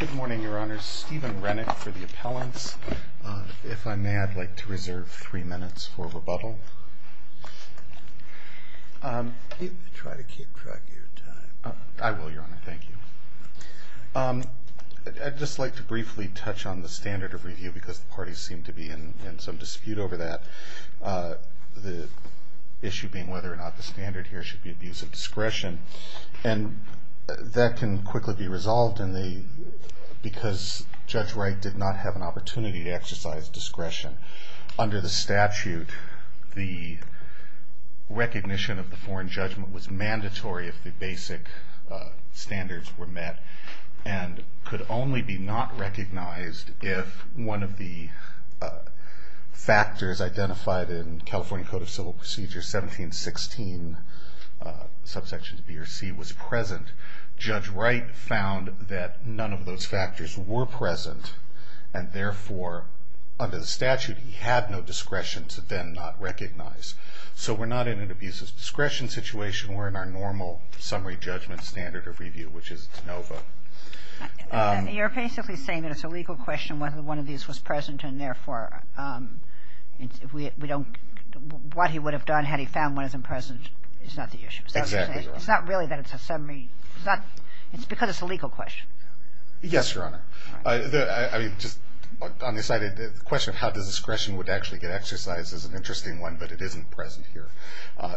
Good morning, Your Honor. Stephen Rennick for the appellants. If I may, I'd like to reserve three minutes for rebuttal. Try to keep track of your time. I will, Your Honor. Thank you. I'd just like to briefly touch on the standard of review because the parties seem to be in some dispute over that, the issue being whether or not the standard here should be abuse of discretion. And that can quickly be resolved because Judge Wright did not have an opportunity to exercise discretion. Under the statute, the recognition of the foreign judgment was mandatory if the basic standards were met and could only be not recognized if one of the factors identified in California Code of Civil Procedure 1716, subsection B or C, was present. Judge Wright found that none of those factors were present and therefore, under the statute, he had no discretion to then not recognize. So we're not in an abuse of discretion situation. We're in our normal summary judgment standard of review, which is NOVA. You're basically saying that it's a legal question whether one of these was present and therefore, what he would have done had he found one of them present is not the issue. Exactly, Your Honor. It's not really that it's a summary. It's because it's a legal question. Yes, Your Honor. The question of how discretion would actually get exercised is an interesting one, but it isn't present here.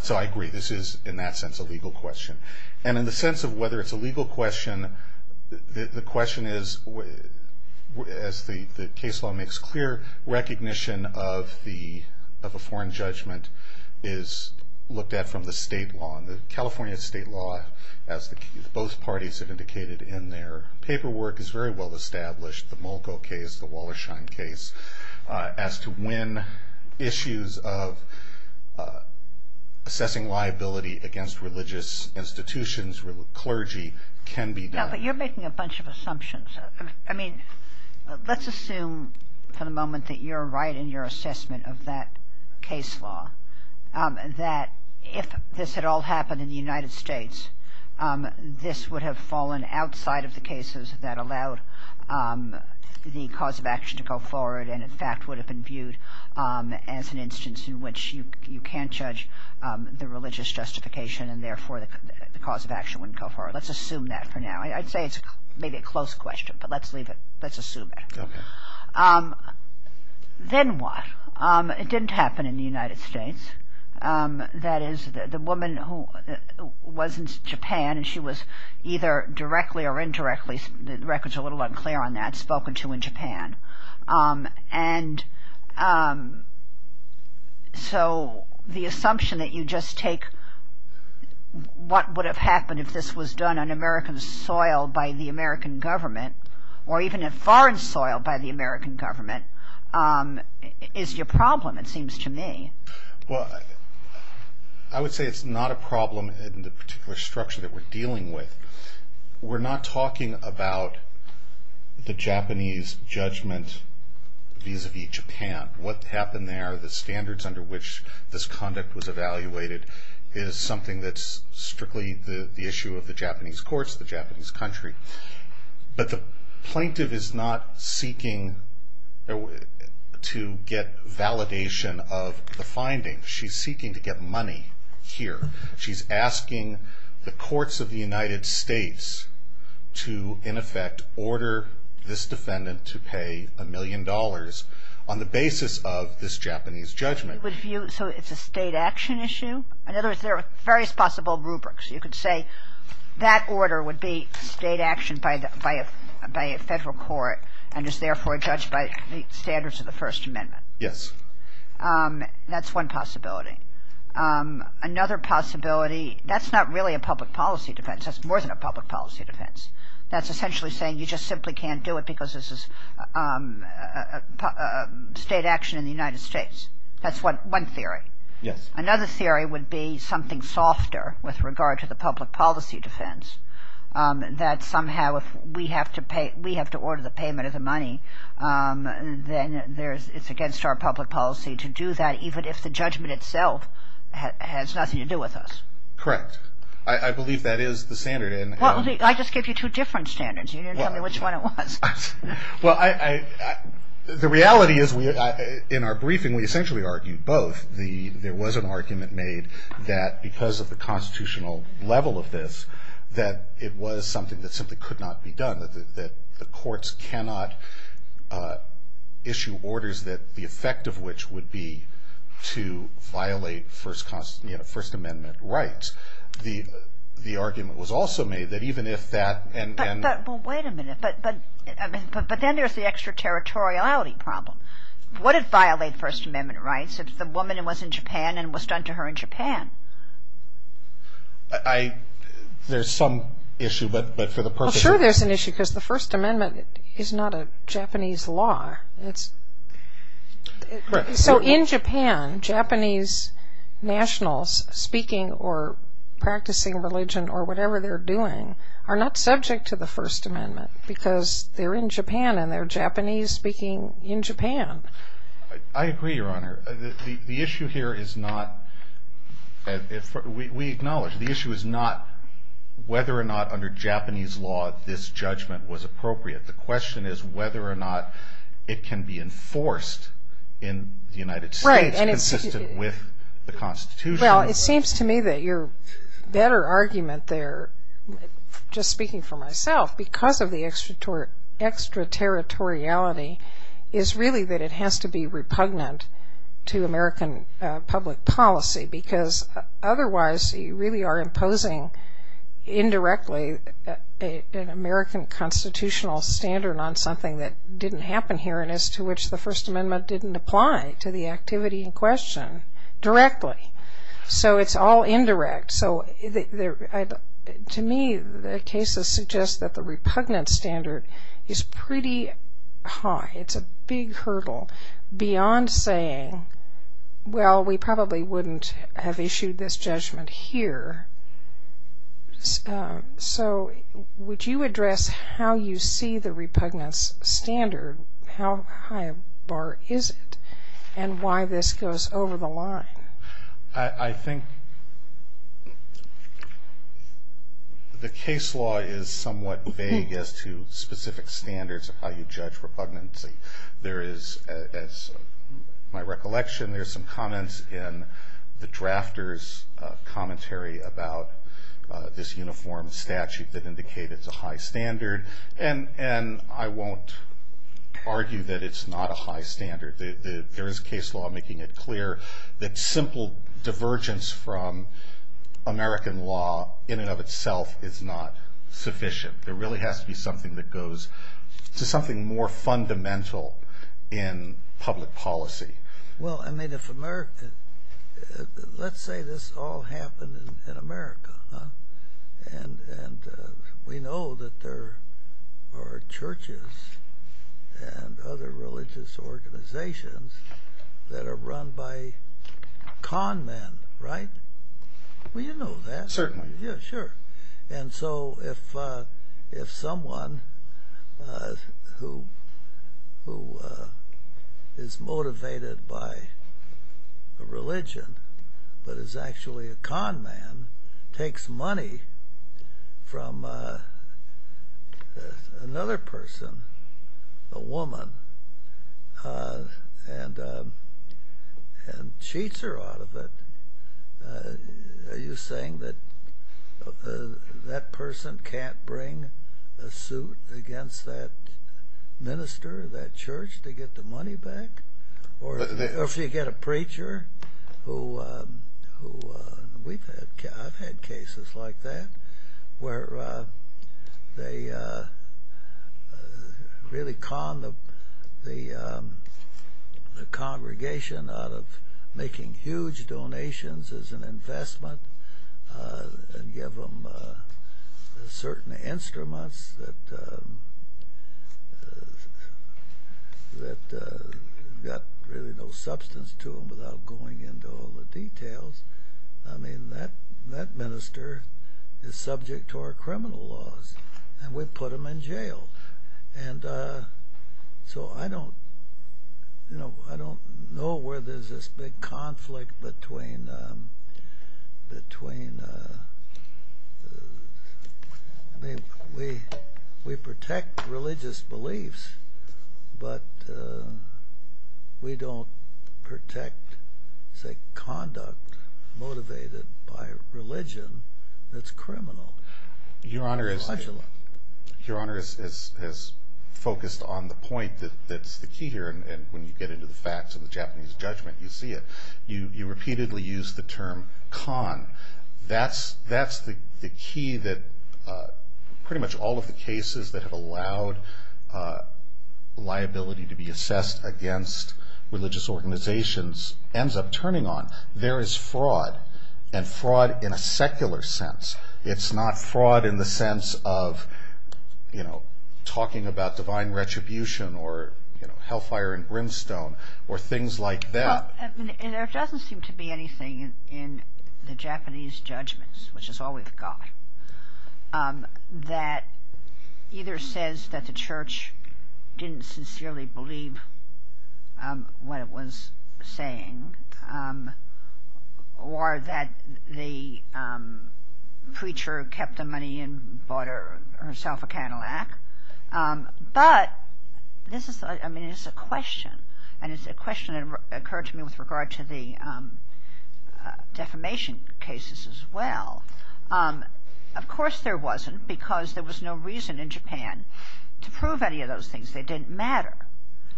So I agree. This is, in that sense, a legal question. And in the sense of whether it's a legal question, the question is, as the case law makes clear, recognition of a foreign judgment is looked at from the state law. The California state law, as both parties have indicated in their paperwork, is very well established. The Mulco case, the Wallersheim case, as to when issues of assessing liability against religious institutions, clergy, can be done. Yeah, but you're making a bunch of assumptions. I mean, let's assume for the moment that you're right in your assessment of that case law, that if this had all happened in the United States, this would have fallen outside of the cases that allowed the cause of action to go forward and, in fact, would have been viewed as an instance in which you can't judge the religious justification and, therefore, the cause of action wouldn't go forward. Let's assume that for now. I'd say it's maybe a close question, but let's leave it. Let's assume it. Then what? It didn't happen in the United States. That is, the woman who was in Japan, and she was either directly or indirectly, the record's a little unclear on that, spoken to in Japan. And so the assumption that you just take what would have happened if this was done on American soil by the American government or even in foreign soil by the American government is your problem, it seems to me. Well, I would say it's not a problem in the particular structure that we're dealing with. We're not talking about the Japanese judgment vis-a-vis Japan. What happened there, the standards under which this conduct was evaluated, is something that's strictly the issue of the Japanese courts, the Japanese country. But the plaintiff is not seeking to get validation of the findings. She's seeking to get money here. She's asking the courts of the United States to, in effect, order this defendant to pay a million dollars on the basis of this Japanese judgment. So it's a state action issue? In other words, there are various possible rubrics. You could say that order would be state action by a federal court and is therefore judged by the standards of the First Amendment. Yes. That's one possibility. Another possibility, that's not really a public policy defense. That's more than a public policy defense. That's essentially saying you just simply can't do it because this is state action in the United States. That's one theory. Yes. Another theory would be something softer with regard to the public policy defense, that somehow if we have to order the payment of the money, then it's against our public policy to do that even if the judgment itself has nothing to do with us. Correct. I believe that is the standard. I just gave you two different standards. You didn't tell me which one it was. Well, the reality is in our briefing we essentially argued both. There was an argument made that because of the constitutional level of this, that it was something that simply could not be done, that the courts cannot issue orders that the effect of which would be to violate First Amendment rights. The argument was also made that even if that... Well, wait a minute. But then there's the extraterritoriality problem. Would it violate First Amendment rights if the woman was in Japan and was done to her in Japan? There's some issue, but for the purpose of... Well, sure there's an issue because the First Amendment is not a Japanese law. So in Japan, Japanese nationals speaking or practicing religion or whatever they're doing are not subject to the First Amendment because they're in Japan and they're Japanese speaking in Japan. I agree, Your Honor. The issue here is not... We acknowledge the issue is not whether or not under Japanese law this judgment was appropriate. The question is whether or not it can be enforced in the United States consistent with the Constitution. Well, it seems to me that your better argument there, just speaking for myself, because of the extraterritoriality is really that it has to be repugnant to American public policy because otherwise you really are imposing indirectly an American constitutional standard on something that didn't happen here and as to which the First Amendment didn't apply to the activity in question directly. So it's all indirect. So to me, the cases suggest that the repugnant standard is pretty high. It's a big hurdle beyond saying, well, we probably wouldn't have issued this judgment here. So would you address how you see the repugnance standard? How high a bar is it and why this goes over the line? I think the case law is somewhat vague as to specific standards of how you judge repugnancy. There is, as my recollection, there's some comments in the drafter's commentary about this uniform statute that indicated it's a high standard. And I won't argue that it's not a high standard. There is case law making it clear that simple divergence from American law in and of itself is not sufficient. There really has to be something that goes to something more fundamental in public policy. Well, let's say this all happened in America, and we know that there are churches and other religious organizations that are run by con men, right? Well, you know that. Certainly. Yeah, sure. And so if someone who is motivated by a religion but is actually a con man takes money from another person, a woman, and cheats her out of it, are you saying that that person can't bring a suit against that minister, that church, to get the money back? Or if you get a preacher who... I've had cases like that, where they really con the congregation out of making huge donations as an investment and give them certain instruments that got really no substance to them without going into all the details. I mean, that minister is subject to our criminal laws, and we put him in jail. And so I don't know where there's this big conflict between... I mean, we protect religious beliefs, but we don't protect, say, conduct motivated by religion that's criminal. Your Honor, as focused on the point that's the key here, and when you get into the facts of the Japanese judgment, you see it, you repeatedly use the term con. That's the key that pretty much all of the cases that have allowed liability to be assessed against religious organizations ends up turning on. There is fraud, and fraud in a secular sense. It's not fraud in the sense of talking about divine retribution or hellfire and brimstone or things like that. There doesn't seem to be anything in the Japanese judgments, which is all we've got, that either says that the church didn't sincerely believe what it was saying, or that the preacher kept the money and bought herself a Cadillac. But this is a question, and it's a question that occurred to me with regard to the defamation cases as well. Of course there wasn't, because there was no reason in Japan to prove any of those things. They didn't matter.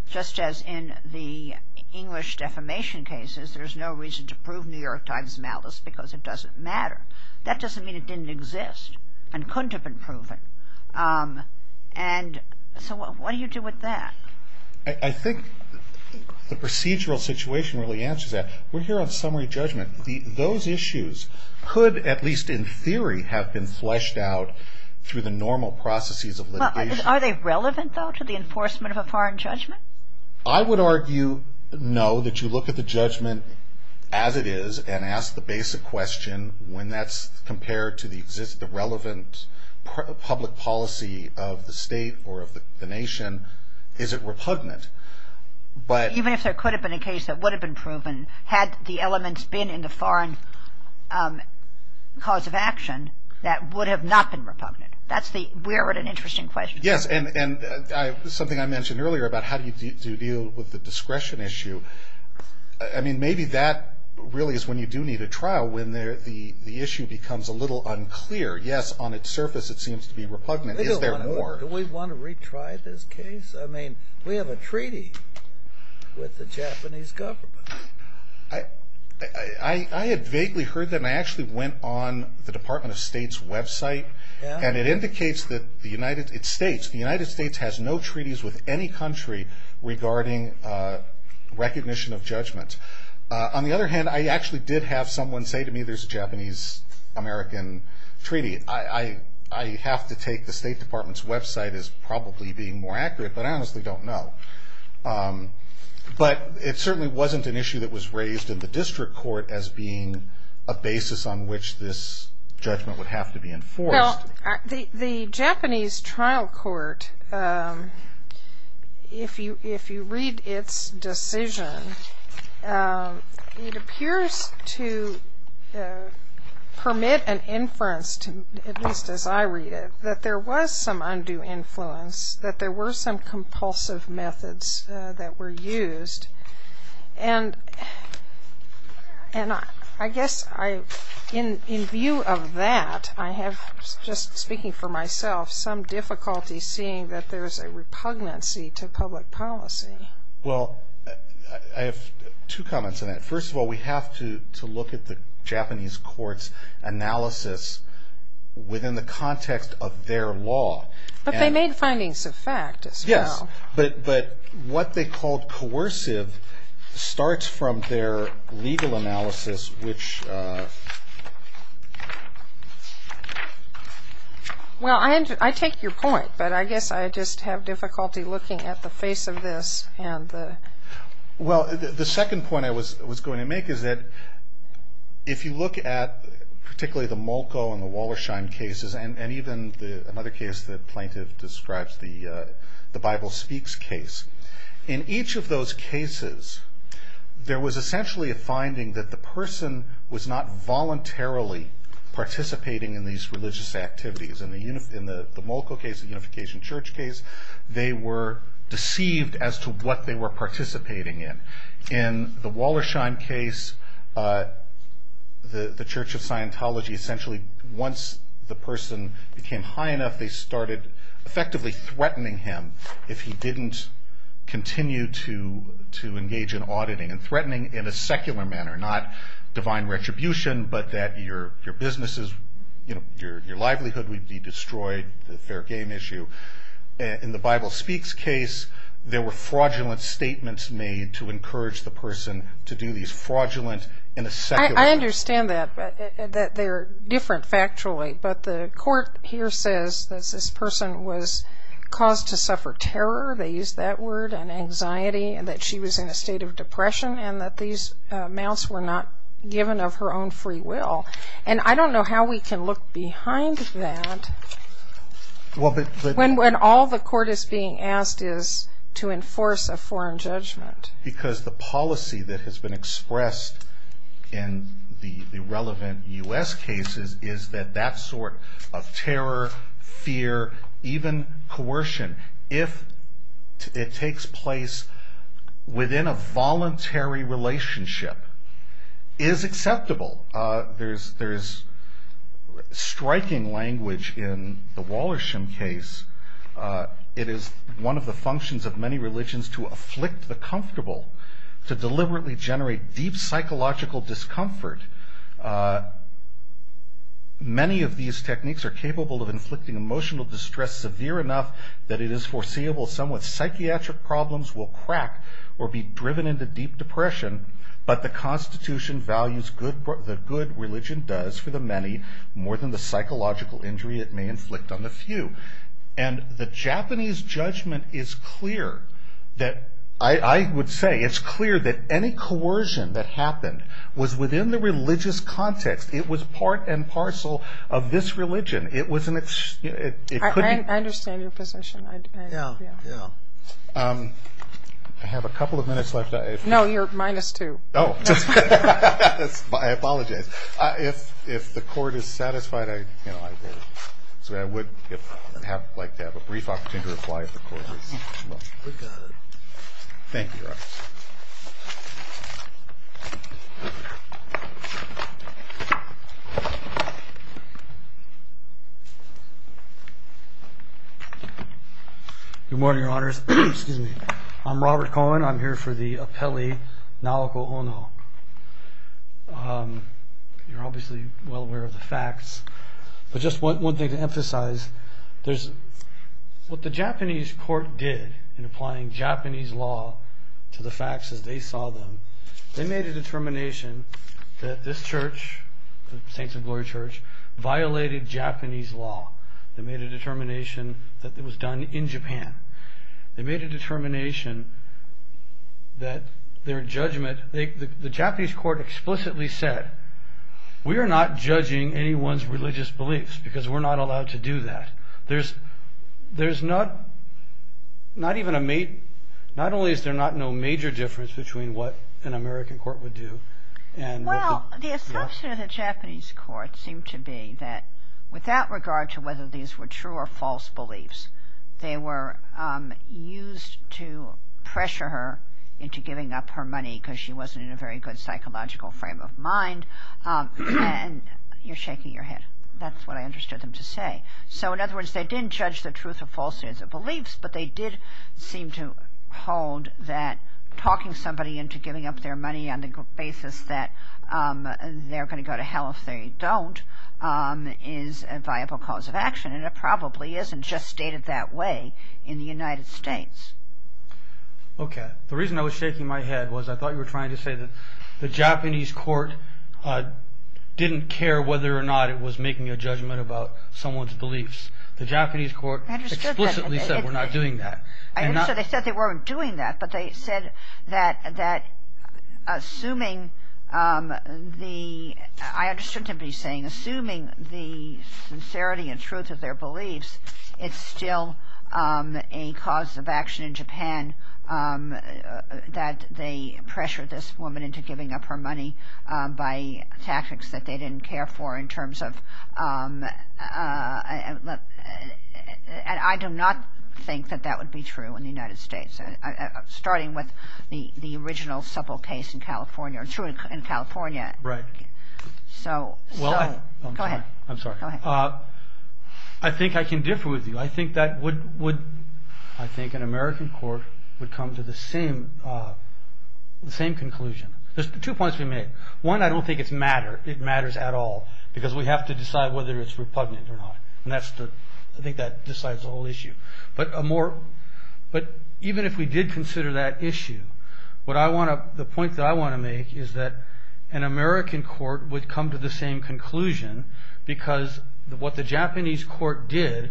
Just as in the English defamation cases, there's no reason to prove New York Times malice because it doesn't matter. That doesn't mean it didn't exist and couldn't have been proven. And so what do you do with that? I think the procedural situation really answers that. We're here on summary judgment. Those issues could, at least in theory, have been fleshed out through the normal processes of litigation. Are they relevant, though, to the enforcement of a foreign judgment? I would argue no, that you look at the judgment as it is and ask the basic question when that's compared to the relevant public policy of the state or of the nation. Is it repugnant? Even if there could have been a case that would have been proven, had the elements been in the foreign cause of action, that would have not been repugnant. We're at an interesting question. Yes, and something I mentioned earlier about how do you deal with the discretion issue. Maybe that really is when you do need a trial, when the issue becomes a little unclear. Yes, on its surface it seems to be repugnant. Is there more? Do we want to retry this case? We have a treaty with the Japanese government. I had vaguely heard that, and I actually went on the Department of State's website. It states the United States has no treaties with any country regarding recognition of judgment. On the other hand, I actually did have someone say to me there's a Japanese-American treaty. I have to take the State Department's website as probably being more accurate, but I honestly don't know. But it certainly wasn't an issue that was raised in the district court as being a basis on which this judgment would have to be enforced. Well, the Japanese trial court, if you read its decision, it appears to permit an inference, at least as I read it, that there was some undue influence, that there were some compulsive methods that were used. And I guess in view of that, I have, just speaking for myself, some difficulty seeing that there's a repugnancy to public policy. Well, I have two comments on that. First of all, we have to look at the Japanese court's analysis within the context of their law. But they made findings of fact as well. Yes. But what they called coercive starts from their legal analysis, which... Well, I take your point, but I guess I just have difficulty looking at the face of this and the... Well, the second point I was going to make is that if you look at particularly the Molko and the Wallersheim cases, and even another case that Plaintiff describes, the Bible Speaks case, in each of those cases, there was essentially a finding that the person was not voluntarily participating in these religious activities. In the Molko case, the Unification Church case, they were deceived as to what they were participating in. In the Wallersheim case, the Church of Scientology essentially, once the person became high enough, they started effectively threatening him if he didn't continue to engage in auditing, and threatening in a secular manner, not divine retribution, but that your businesses, your livelihood would be destroyed, the fair game issue. In the Bible Speaks case, there were fraudulent statements made to encourage the person to do these fraudulent, in a secular... I understand that, but they're different factually. But the court here says that this person was caused to suffer terror, they used that word, and anxiety, and that she was in a state of depression, and that these amounts were not given of her own free will. And I don't know how we can look behind that. When all the court is being asked is to enforce a foreign judgment. Because the policy that has been expressed in the relevant U.S. cases is that that sort of terror, fear, even coercion, if it takes place within a voluntary relationship, is acceptable. There's striking language in the Wallersham case. It is one of the functions of many religions to afflict the comfortable, to deliberately generate deep psychological discomfort. Many of these techniques are capable of inflicting emotional distress severe enough that it is foreseeable somewhat psychiatric problems will crack, or be driven into deep depression, but the Constitution values the good religion does for the many more than the psychological injury it may inflict on the few. And the Japanese judgment is clear that... I would say it's clear that any coercion that happened was within the religious context. It was part and parcel of this religion. It was an... I understand your position. Yeah, yeah. I have a couple of minutes left. No, you're minus two. Oh. I apologize. If the Court is satisfied, I will. I would like to have a brief opportunity to reply if the Court is. Thank you. Good morning, Your Honors. I'm Robert Cohen. I'm here for the appellee, Naoko Ono. You're obviously well aware of the facts. But just one thing to emphasize. What the Japanese Court did in applying Japanese law to the facts as they saw them, they made a determination that this church, the Saints of Glory Church, violated Japanese law. They made a determination that it was done in Japan. They made a determination that their judgment... The Japanese Court explicitly said, we are not judging anyone's religious beliefs because we're not allowed to do that. There's not even a... Not only is there not no major difference between what an American court would do and... Well, the assumption of the Japanese Court seemed to be that without regard to whether these were true or false beliefs, they were used to pressure her into giving up her money because she wasn't in a very good psychological frame of mind. And you're shaking your head. That's what I understood them to say. So in other words, they didn't judge the truth or falsehoods of beliefs, but they did seem to hold that talking somebody into giving up their money on the basis that they're going to go to hell if they don't is a viable cause of action. And it probably isn't just stated that way in the United States. Okay. The reason I was shaking my head was I thought you were trying to say that the Japanese Court didn't care whether or not it was making a judgment about someone's beliefs. The Japanese Court explicitly said we're not doing that. I understood they said they weren't doing that, but they said that assuming the... it's still a cause of action in Japan that they pressured this woman into giving up her money by tactics that they didn't care for in terms of... And I do not think that that would be true in the United States, starting with the original supple case in California. It's true in California. Right. So, go ahead. I'm sorry. Go ahead. I think I can differ with you. I think an American court would come to the same conclusion. There's two points we made. One, I don't think it matters at all because we have to decide whether it's repugnant or not, and I think that decides the whole issue. But even if we did consider that issue, the point that I want to make is that an American court would come to the same conclusion because what the Japanese court did,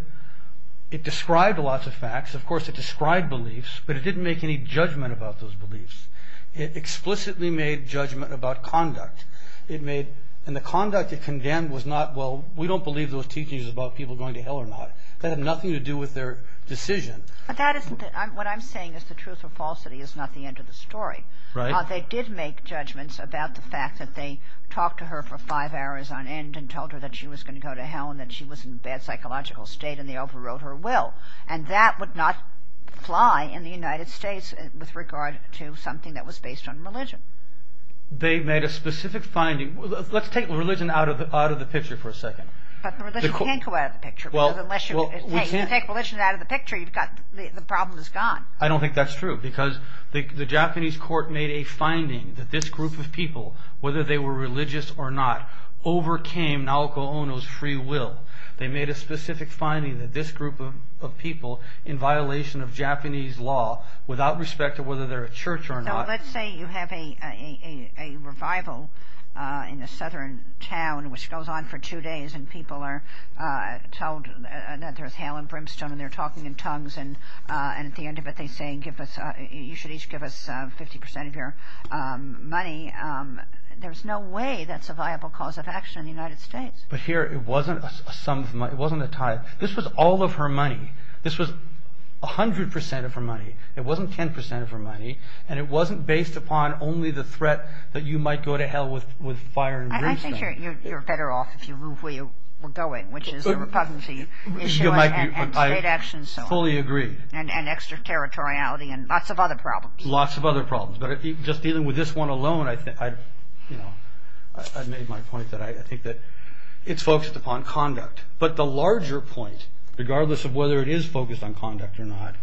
it described lots of facts. Of course, it described beliefs, but it didn't make any judgment about those beliefs. It explicitly made judgment about conduct. And the conduct it condemned was not, well, we don't believe those teachings are about people going to hell or not. That had nothing to do with their decision. What I'm saying is the truth or falsity is not the end of the story. Right. They did make judgments about the fact that they talked to her for five hours on end and told her that she was going to go to hell and that she was in a bad psychological state and they overrode her will. And that would not fly in the United States with regard to something that was based on religion. They made a specific finding. Let's take religion out of the picture for a second. But religion can't go out of the picture because unless you take religion out of the picture, the problem is gone. I don't think that's true because the Japanese court made a finding that this group of people, whether they were religious or not, overcame Naoko Ono's free will. They made a specific finding that this group of people, in violation of Japanese law, without respect to whether they're a church or not. So let's say you have a revival in a southern town which goes on for two days and people are told that there's hell in Brimstone and they're talking in tongues and at the end of it they say you should each give us 50% of your money. There's no way that's a viable cause of action in the United States. But here it wasn't a sum of money. This was all of her money. This was 100% of her money. It wasn't 10% of her money. And it wasn't based upon only the threat that you might go to hell with fire in Brimstone. I think you're better off if you move where you were going, which is the repugnancy issue and state action and so on. I fully agree. And extraterritoriality and lots of other problems. Lots of other problems. But just dealing with this one alone, I've made my point that I think that it's focused upon conduct. But the larger point, regardless of whether it is focused on conduct or not,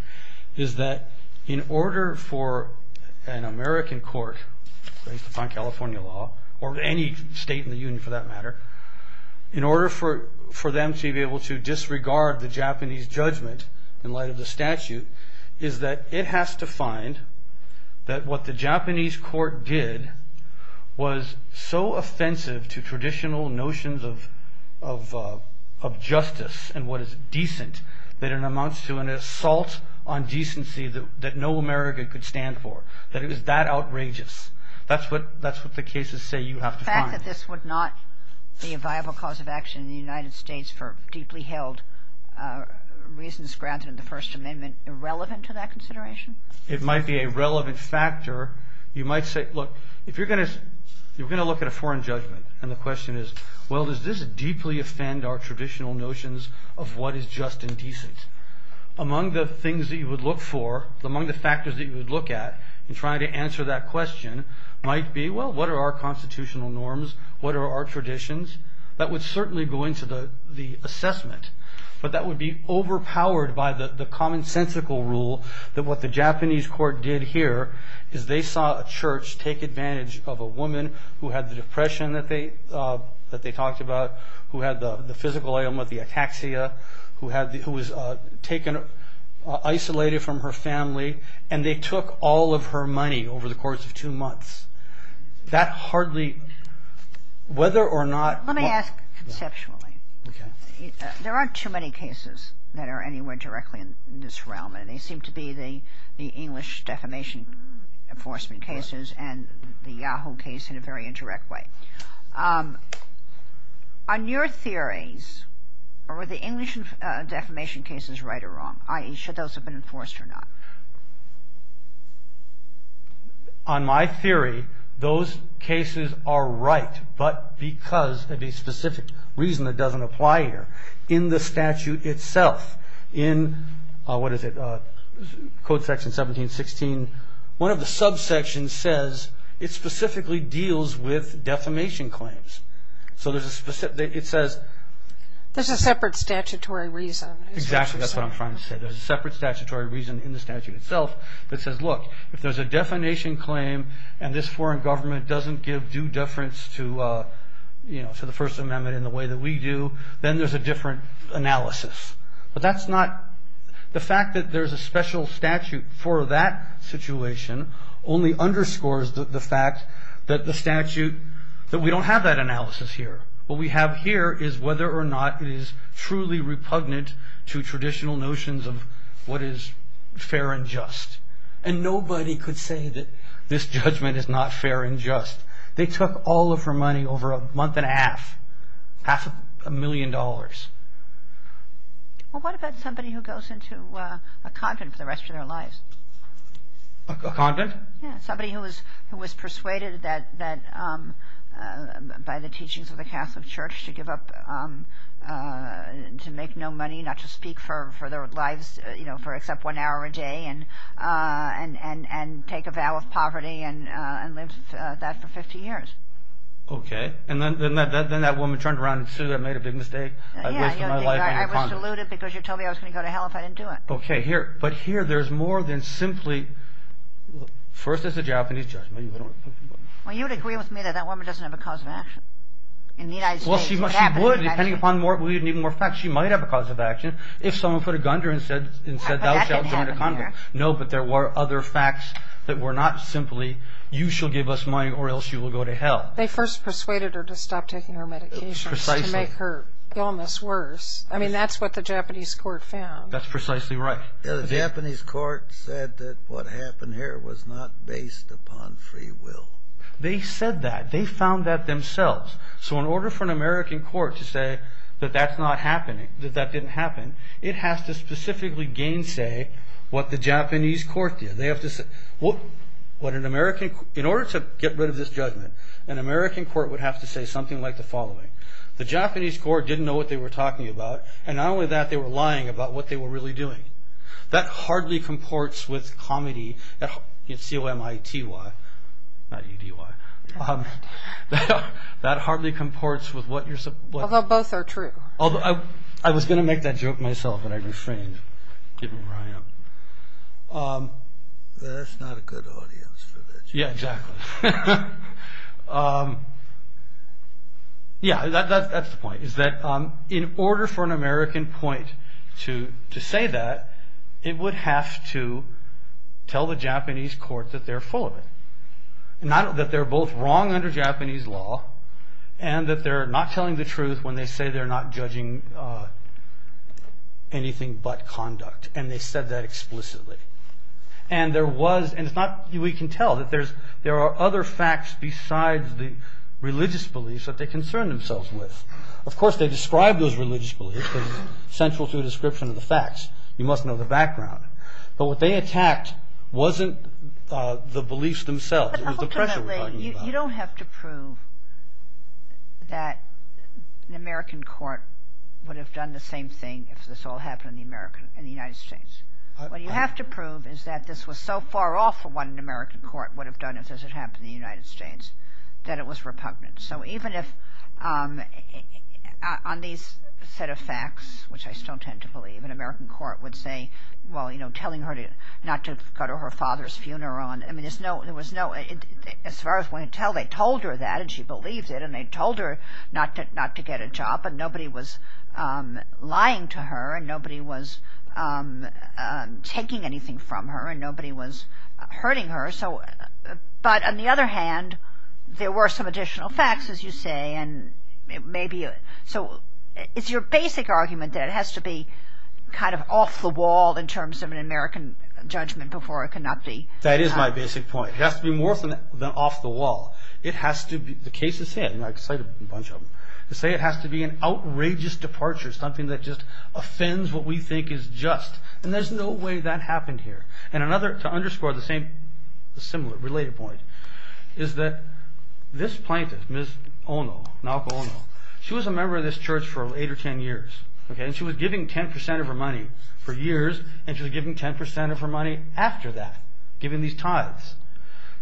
is that in order for an American court, based upon California law, or any state in the Union for that matter, in order for them to be able to disregard the Japanese judgment in light of the statute, is that it has to find that what the Japanese court did was so offensive to traditional notions of justice and what is decent that it amounts to an assault on decency that no American could stand for. That it was that outrageous. That's what the cases say you have to find. Do you think that this would not be a viable cause of action in the United States for deeply held reasons granted in the First Amendment irrelevant to that consideration? It might be a relevant factor. You might say, look, if you're going to look at a foreign judgment and the question is, well, does this deeply offend our traditional notions of what is just and decent? Among the things that you would look for, among the factors that you would look at in trying to answer that question might be, well, what are our constitutional norms? What are our traditions? That would certainly go into the assessment, but that would be overpowered by the commonsensical rule that what the Japanese court did here is they saw a church take advantage of a woman who had the depression that they talked about, who had the physical ailment, the ataxia, who was isolated from her family, and they took all of her money over the course of two months. That hardly, whether or not... Let me ask conceptually. Okay. There aren't too many cases that are anywhere directly in this realm, and they seem to be the English defamation enforcement cases and the Yahoo case in a very indirect way. On your theories, are the English defamation cases right or wrong, i.e., should those have been enforced or not? On my theory, those cases are right, but because of a specific reason that doesn't apply here in the statute itself. In, what is it, Code Section 1716, one of the subsections says it specifically deals with defamation claims. So it says... There's a separate statutory reason. Exactly, that's what I'm trying to say. There's a separate statutory reason in the statute itself that says, look, if there's a defamation claim and this foreign government doesn't give due deference to the First Amendment in the way that we do, then there's a different analysis. But that's not... The fact that there's a special statute for that situation only underscores the fact that we don't have that analysis here. What we have here is whether or not it is truly repugnant to traditional notions of what is fair and just. And nobody could say that this judgment is not fair and just. They took all of her money over a month and a half, half a million dollars. Well, what about somebody who goes into a convent for the rest of their lives? A convent? Somebody who was persuaded by the teachings of the Catholic Church to give up, to make no money, not to speak for their lives for except one hour a day and take a vow of poverty and lived that for 50 years. Okay. And then that woman turned around and said, I made a big mistake, I wasted my life in a convent. I was deluded because you told me I was going to go to hell if I didn't do it. Okay. But here there's more than simply, first it's a Japanese judgment. Well, you would agree with me that that woman doesn't have a cause of action. In the United States. Well, she would depending upon more facts. She might have a cause of action if someone put a gun to her and said, thou shalt join a convent. No, but there were other facts that were not simply, you shall give us money or else you will go to hell. They first persuaded her to stop taking her medications. Precisely. To make her illness worse. I mean, that's what the Japanese court found. That's precisely right. The Japanese court said that what happened here was not based upon free will. They said that. They found that themselves. So in order for an American court to say that that's not happening, that that didn't happen, it has to specifically gainsay what the Japanese court did. In order to get rid of this judgment, an American court would have to say something like the following. The Japanese court didn't know what they were talking about, and not only that, they were lying about what they were really doing. That hardly comports with comedy. C-O-M-I-T-Y, not E-D-Y. That hardly comports with what you're supposed to. Although both are true. I was going to make that joke myself, but I refrained, given where I am. That's not a good audience for that joke. Yeah, exactly. Yeah, that's the point. In order for an American point to say that, it would have to tell the Japanese court that they're full of it. Not that they're both wrong under Japanese law, and that they're not telling the truth when they say they're not judging anything but conduct. And they said that explicitly. And we can tell that there are other facts besides the religious beliefs that they concern themselves with. Of course, they describe those religious beliefs as central to the description of the facts. You must know the background. But what they attacked wasn't the beliefs themselves. It was the pressure we're talking about. But ultimately, you don't have to prove that an American court would have done the same thing if this all happened in the United States. What you have to prove is that this was so far off from what an American court would have done if this had happened in the United States, that it was repugnant. So even if on these set of facts, which I still tend to believe, an American court would say, well, you know, telling her not to go to her father's funeral. I mean, there was no, as far as we can tell, they told her that, and she believed it. And they told her not to get a job. And nobody was lying to her. And nobody was taking anything from her. And nobody was hurting her. But on the other hand, there were some additional facts, as you say. So it's your basic argument that it has to be kind of off the wall in terms of an American judgment before it could not be. That is my basic point. It has to be more than off the wall. It has to be, the case is set, and I've cited a bunch of them, to say it has to be an outrageous departure, something that just offends what we think is just. And there's no way that happened here. And another, to underscore the similar, related point, is that this plaintiff, Ms. Ono, Naoko Ono, she was a member of this church for eight or ten years. And she was giving 10% of her money for years, and she was giving 10% of her money after that, giving these tithes.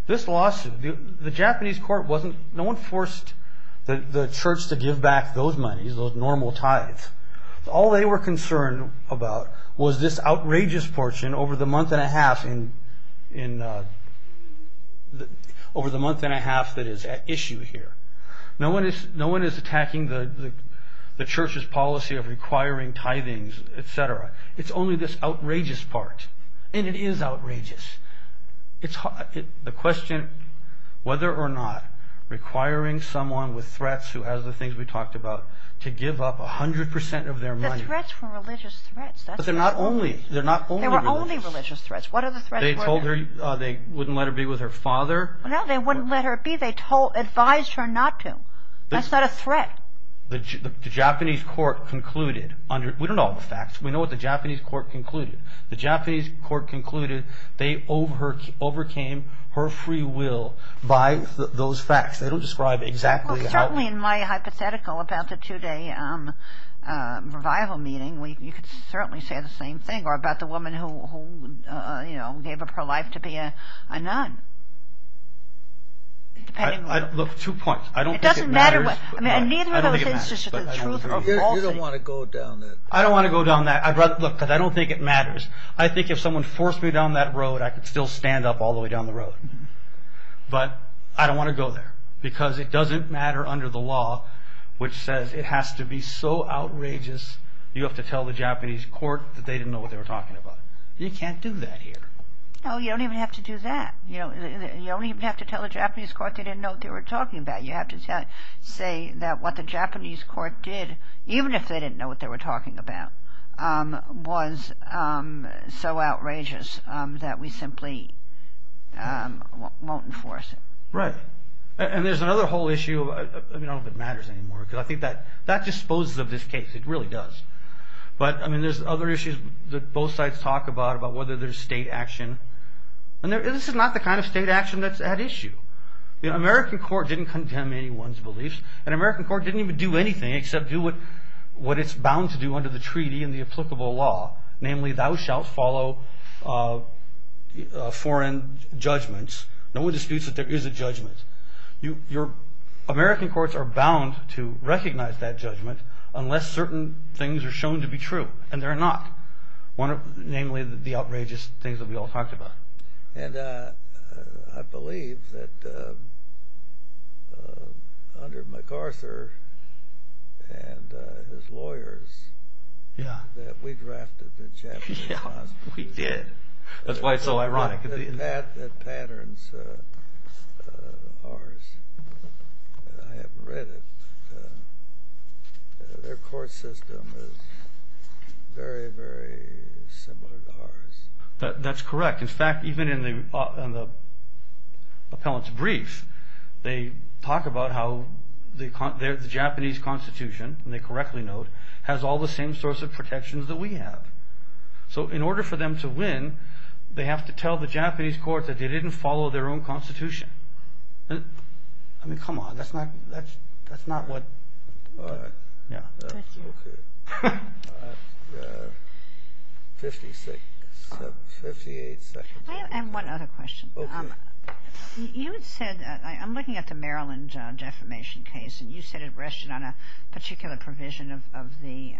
This lawsuit, the Japanese court wasn't, no one forced the church to give back those monies, those normal tithes. All they were concerned about was this outrageous portion over the month and a half that is at issue here. No one is attacking the church's policy of requiring tithings, etc. It's only this outrageous part. And it is outrageous. The question, whether or not, requiring someone with threats, who has the things we talked about, to give up 100% of their money. Threats were religious threats. But they're not only religious. They were only religious threats. What other threats were there? They told her they wouldn't let her be with her father. No, they wouldn't let her be. They advised her not to. That's not a threat. The Japanese court concluded, we don't know all the facts, we know what the Japanese court concluded. The Japanese court concluded they overcame her free will by those facts. They don't describe exactly how. Certainly in my hypothetical, about the two-day revival meeting, you could certainly say the same thing. Or about the woman who gave up her life to be a nun. Look, two points. I don't think it matters. It doesn't matter. I don't think it matters. You don't want to go down that road. I don't want to go down that. Look, I don't think it matters. I think if someone forced me down that road, I could still stand up all the way down the road. But I don't want to go there. Because it doesn't matter under the law, which says it has to be so outrageous, you have to tell the Japanese court that they didn't know what they were talking about. You can't do that here. No, you don't even have to do that. You don't even have to tell the Japanese court they didn't know what they were talking about. You have to say that what the Japanese court did, even if they didn't know what they were talking about, was so outrageous that we simply won't enforce it. Right. And there's another whole issue. I don't know if it matters anymore. Because I think that disposes of this case. It really does. But there's other issues that both sides talk about, about whether there's state action. And this is not the kind of state action that's at issue. The American court didn't condemn anyone's beliefs. And the American court didn't even do anything except do what it's bound to do under the treaty and the applicable law. Namely, thou shalt follow foreign judgments. No one disputes that there is a judgment. American courts are bound to recognize that judgment unless certain things are shown to be true. And they're not. Namely, the outrageous things that we all talked about. And I believe that under MacArthur and his lawyers, that we drafted the Japanese laws. Yeah, we did. That's why it's so ironic. That patterns ours. I haven't read it. Their court system is very, very similar to ours. That's correct. In fact, even in the appellant's brief, they talk about how the Japanese Constitution, and they correctly note, has all the same sorts of protections that we have. So in order for them to win, they have to tell the Japanese courts that they didn't follow their own Constitution. I mean, come on. That's not what... All right. Yeah. Okay. 56, 58 seconds. I have one other question. Okay. You said, I'm looking at the Maryland defamation case, and you said it rested on a particular provision of the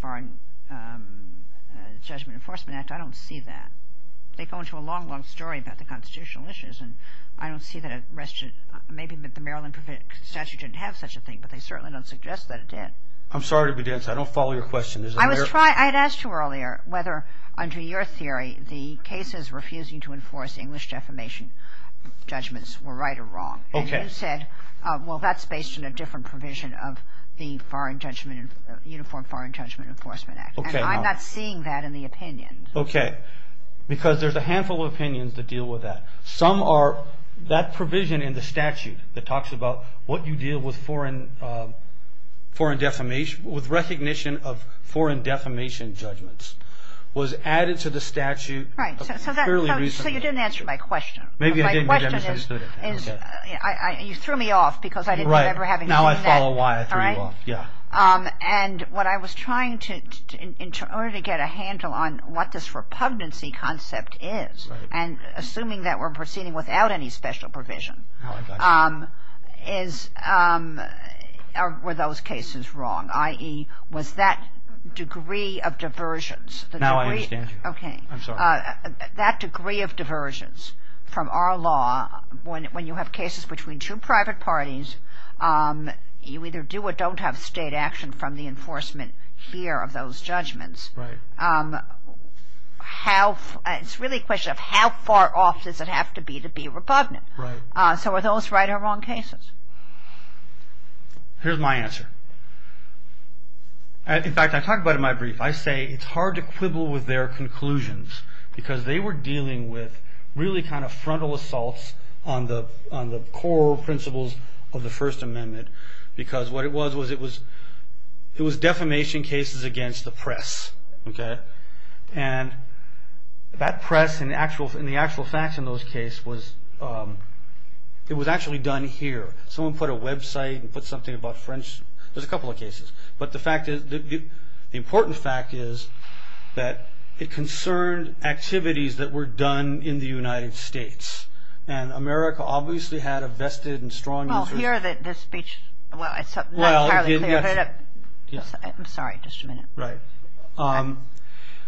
Foreign Judgment Enforcement Act. I don't see that. They go into a long, long story about the constitutional issues, and I don't see that it rested. Maybe the Maryland statute didn't have such a thing, but they certainly don't suggest that it did. I'm sorry to be dense. I don't follow your question. I had asked you earlier whether, under your theory, the cases refusing to enforce English defamation judgments were right or wrong. Okay. And you said, well, that's based on a different provision of the Uniform Foreign Judgment Enforcement Act. Okay. I'm not seeing that in the opinion. Okay. Because there's a handful of opinions that deal with that. Some are that provision in the statute that talks about what you deal with recognition of foreign defamation judgments was added to the statute fairly recently. Right. So you didn't answer my question. Maybe I didn't. You threw me off because I didn't remember having seen that. Right. Now I follow why I threw you off. All right. Yeah. And what I was trying to get a handle on what this repugnancy concept is, and assuming that we're proceeding without any special provision, were those cases wrong, i.e., was that degree of diversions? Now I understand you. Okay. I'm sorry. That degree of diversions from our law, when you have cases between two private parties, you either do or don't have state action from the enforcement here of those judgments. Right. It's really a question of how far off does it have to be to be a repugnant. Right. So are those right or wrong cases? Here's my answer. In fact, I talk about it in my brief. I say it's hard to quibble with their conclusions because they were dealing with really kind of frontal assaults on the core principles of the First Amendment because what it was, it was defamation cases against the press. Okay. And that press and the actual facts in those cases, it was actually done here. Someone put a website and put something about French. There's a couple of cases. But the important fact is that it concerned activities that were done in the United States. And America obviously had a vested and strong interest. Well, here the speech, well, it's not entirely clear. I'm sorry. Just a minute. Right.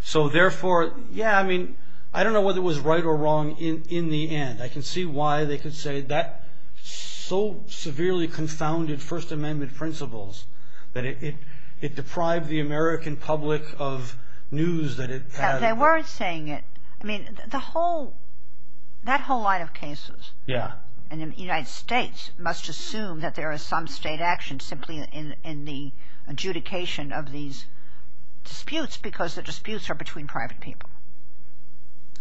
So therefore, yeah, I mean, I don't know whether it was right or wrong in the end. I can see why they could say that so severely confounded First Amendment principles that it deprived the American public of news that it had. They weren't saying it. I mean, the whole, that whole line of cases. Yeah. And the United States must assume that there is some state action simply in the adjudication of these disputes because the disputes are between private people.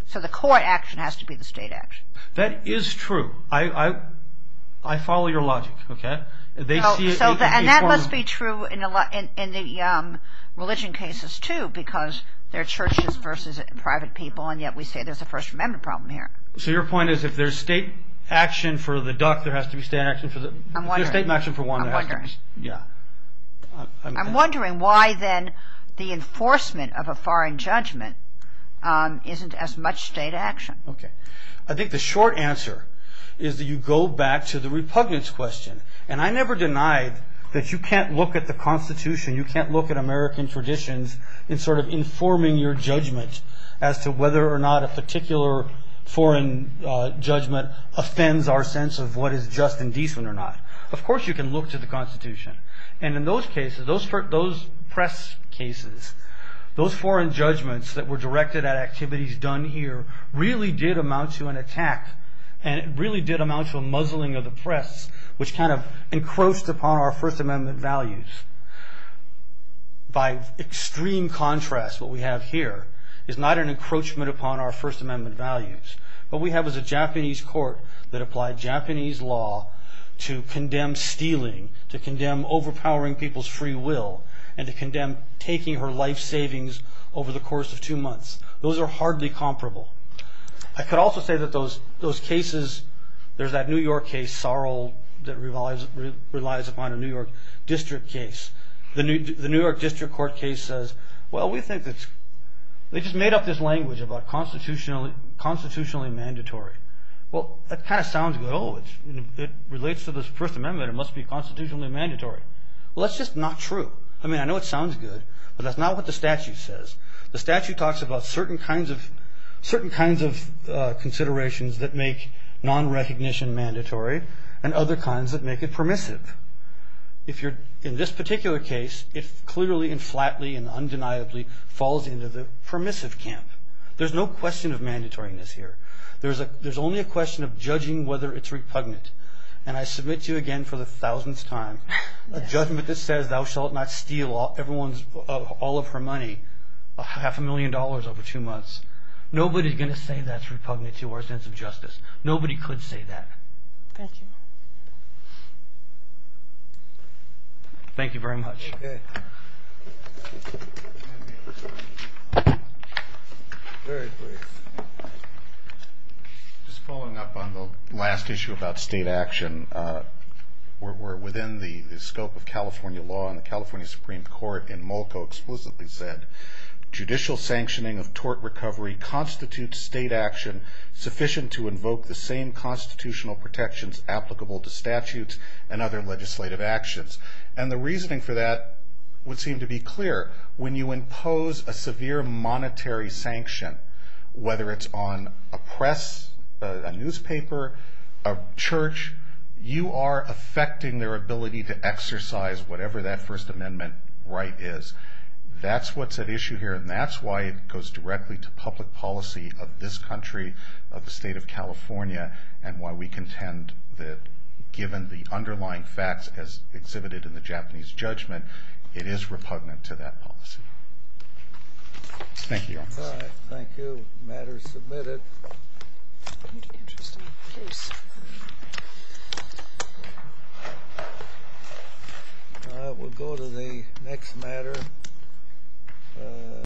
So the core action has to be the state action. That is true. I follow your logic. Okay. And that must be true in the religion cases, too, because they're churches versus private people. And yet we say there's a First Amendment problem here. So your point is if there's state action for the duck, there has to be state action for the duck. I'm wondering. There's state action for one. I'm wondering. Yeah. I'm wondering why then the enforcement of a foreign judgment isn't as much state action. Okay. I think the short answer is that you go back to the repugnance question. And I never denied that you can't look at the Constitution, you can't look at American traditions in sort of informing your judgment as to whether or not a particular foreign judgment offends our sense of what is just and decent or not. Of course you can look to the Constitution. And in those cases, those press cases, those foreign judgments that were directed at activities done here really did amount to an attack and it really did amount to a muzzling of the press, which kind of encroached upon our First Amendment values. By extreme contrast, what we have here is not an encroachment upon our First Amendment values. What we have is a Japanese court that applied Japanese law to condemn stealing, to condemn overpowering people's free will, and to condemn taking her life savings over the course of two months. Those are hardly comparable. I could also say that those cases, there's that New York case, Sorrell, that relies upon a New York district case. The New York district court case says, well, they just made up this language about constitutionally mandatory. Well, that kind of sounds good. Oh, it relates to this First Amendment, it must be constitutionally mandatory. Well, that's just not true. I mean, I know it sounds good, but that's not what the statute says. The statute talks about certain kinds of considerations that make non-recognition mandatory, and other kinds that make it permissive. In this particular case, it clearly and flatly and undeniably falls into the permissive camp. There's no question of mandatoriness here. There's only a question of judging whether it's repugnant. And I submit to you again for the thousandth time, a judgment that says thou shalt not steal all of her money, half a million dollars over two months. Nobody's going to say that's repugnant to our sense of justice. Nobody could say that. Thank you. Thank you very much. Okay. Very brief. Just following up on the last issue about state action, we're within the scope of California law, and the California Supreme Court in Molko explicitly said, judicial sanctioning of tort recovery constitutes state action sufficient to invoke the same constitutional protections applicable to statutes and other legislative actions. And the reasoning for that would seem to be clear. When you impose a severe monetary sanction, whether it's on a press, a newspaper, a church, you are affecting their ability to exercise whatever that First Amendment right is. That's what's at issue here, and that's why it goes directly to public policy of this country, of the state of California, and why we contend that given the underlying facts as exhibited in the Japanese judgment, it is repugnant to that policy. Thank you. Thank you. The matter is submitted. We'll go to the next matter.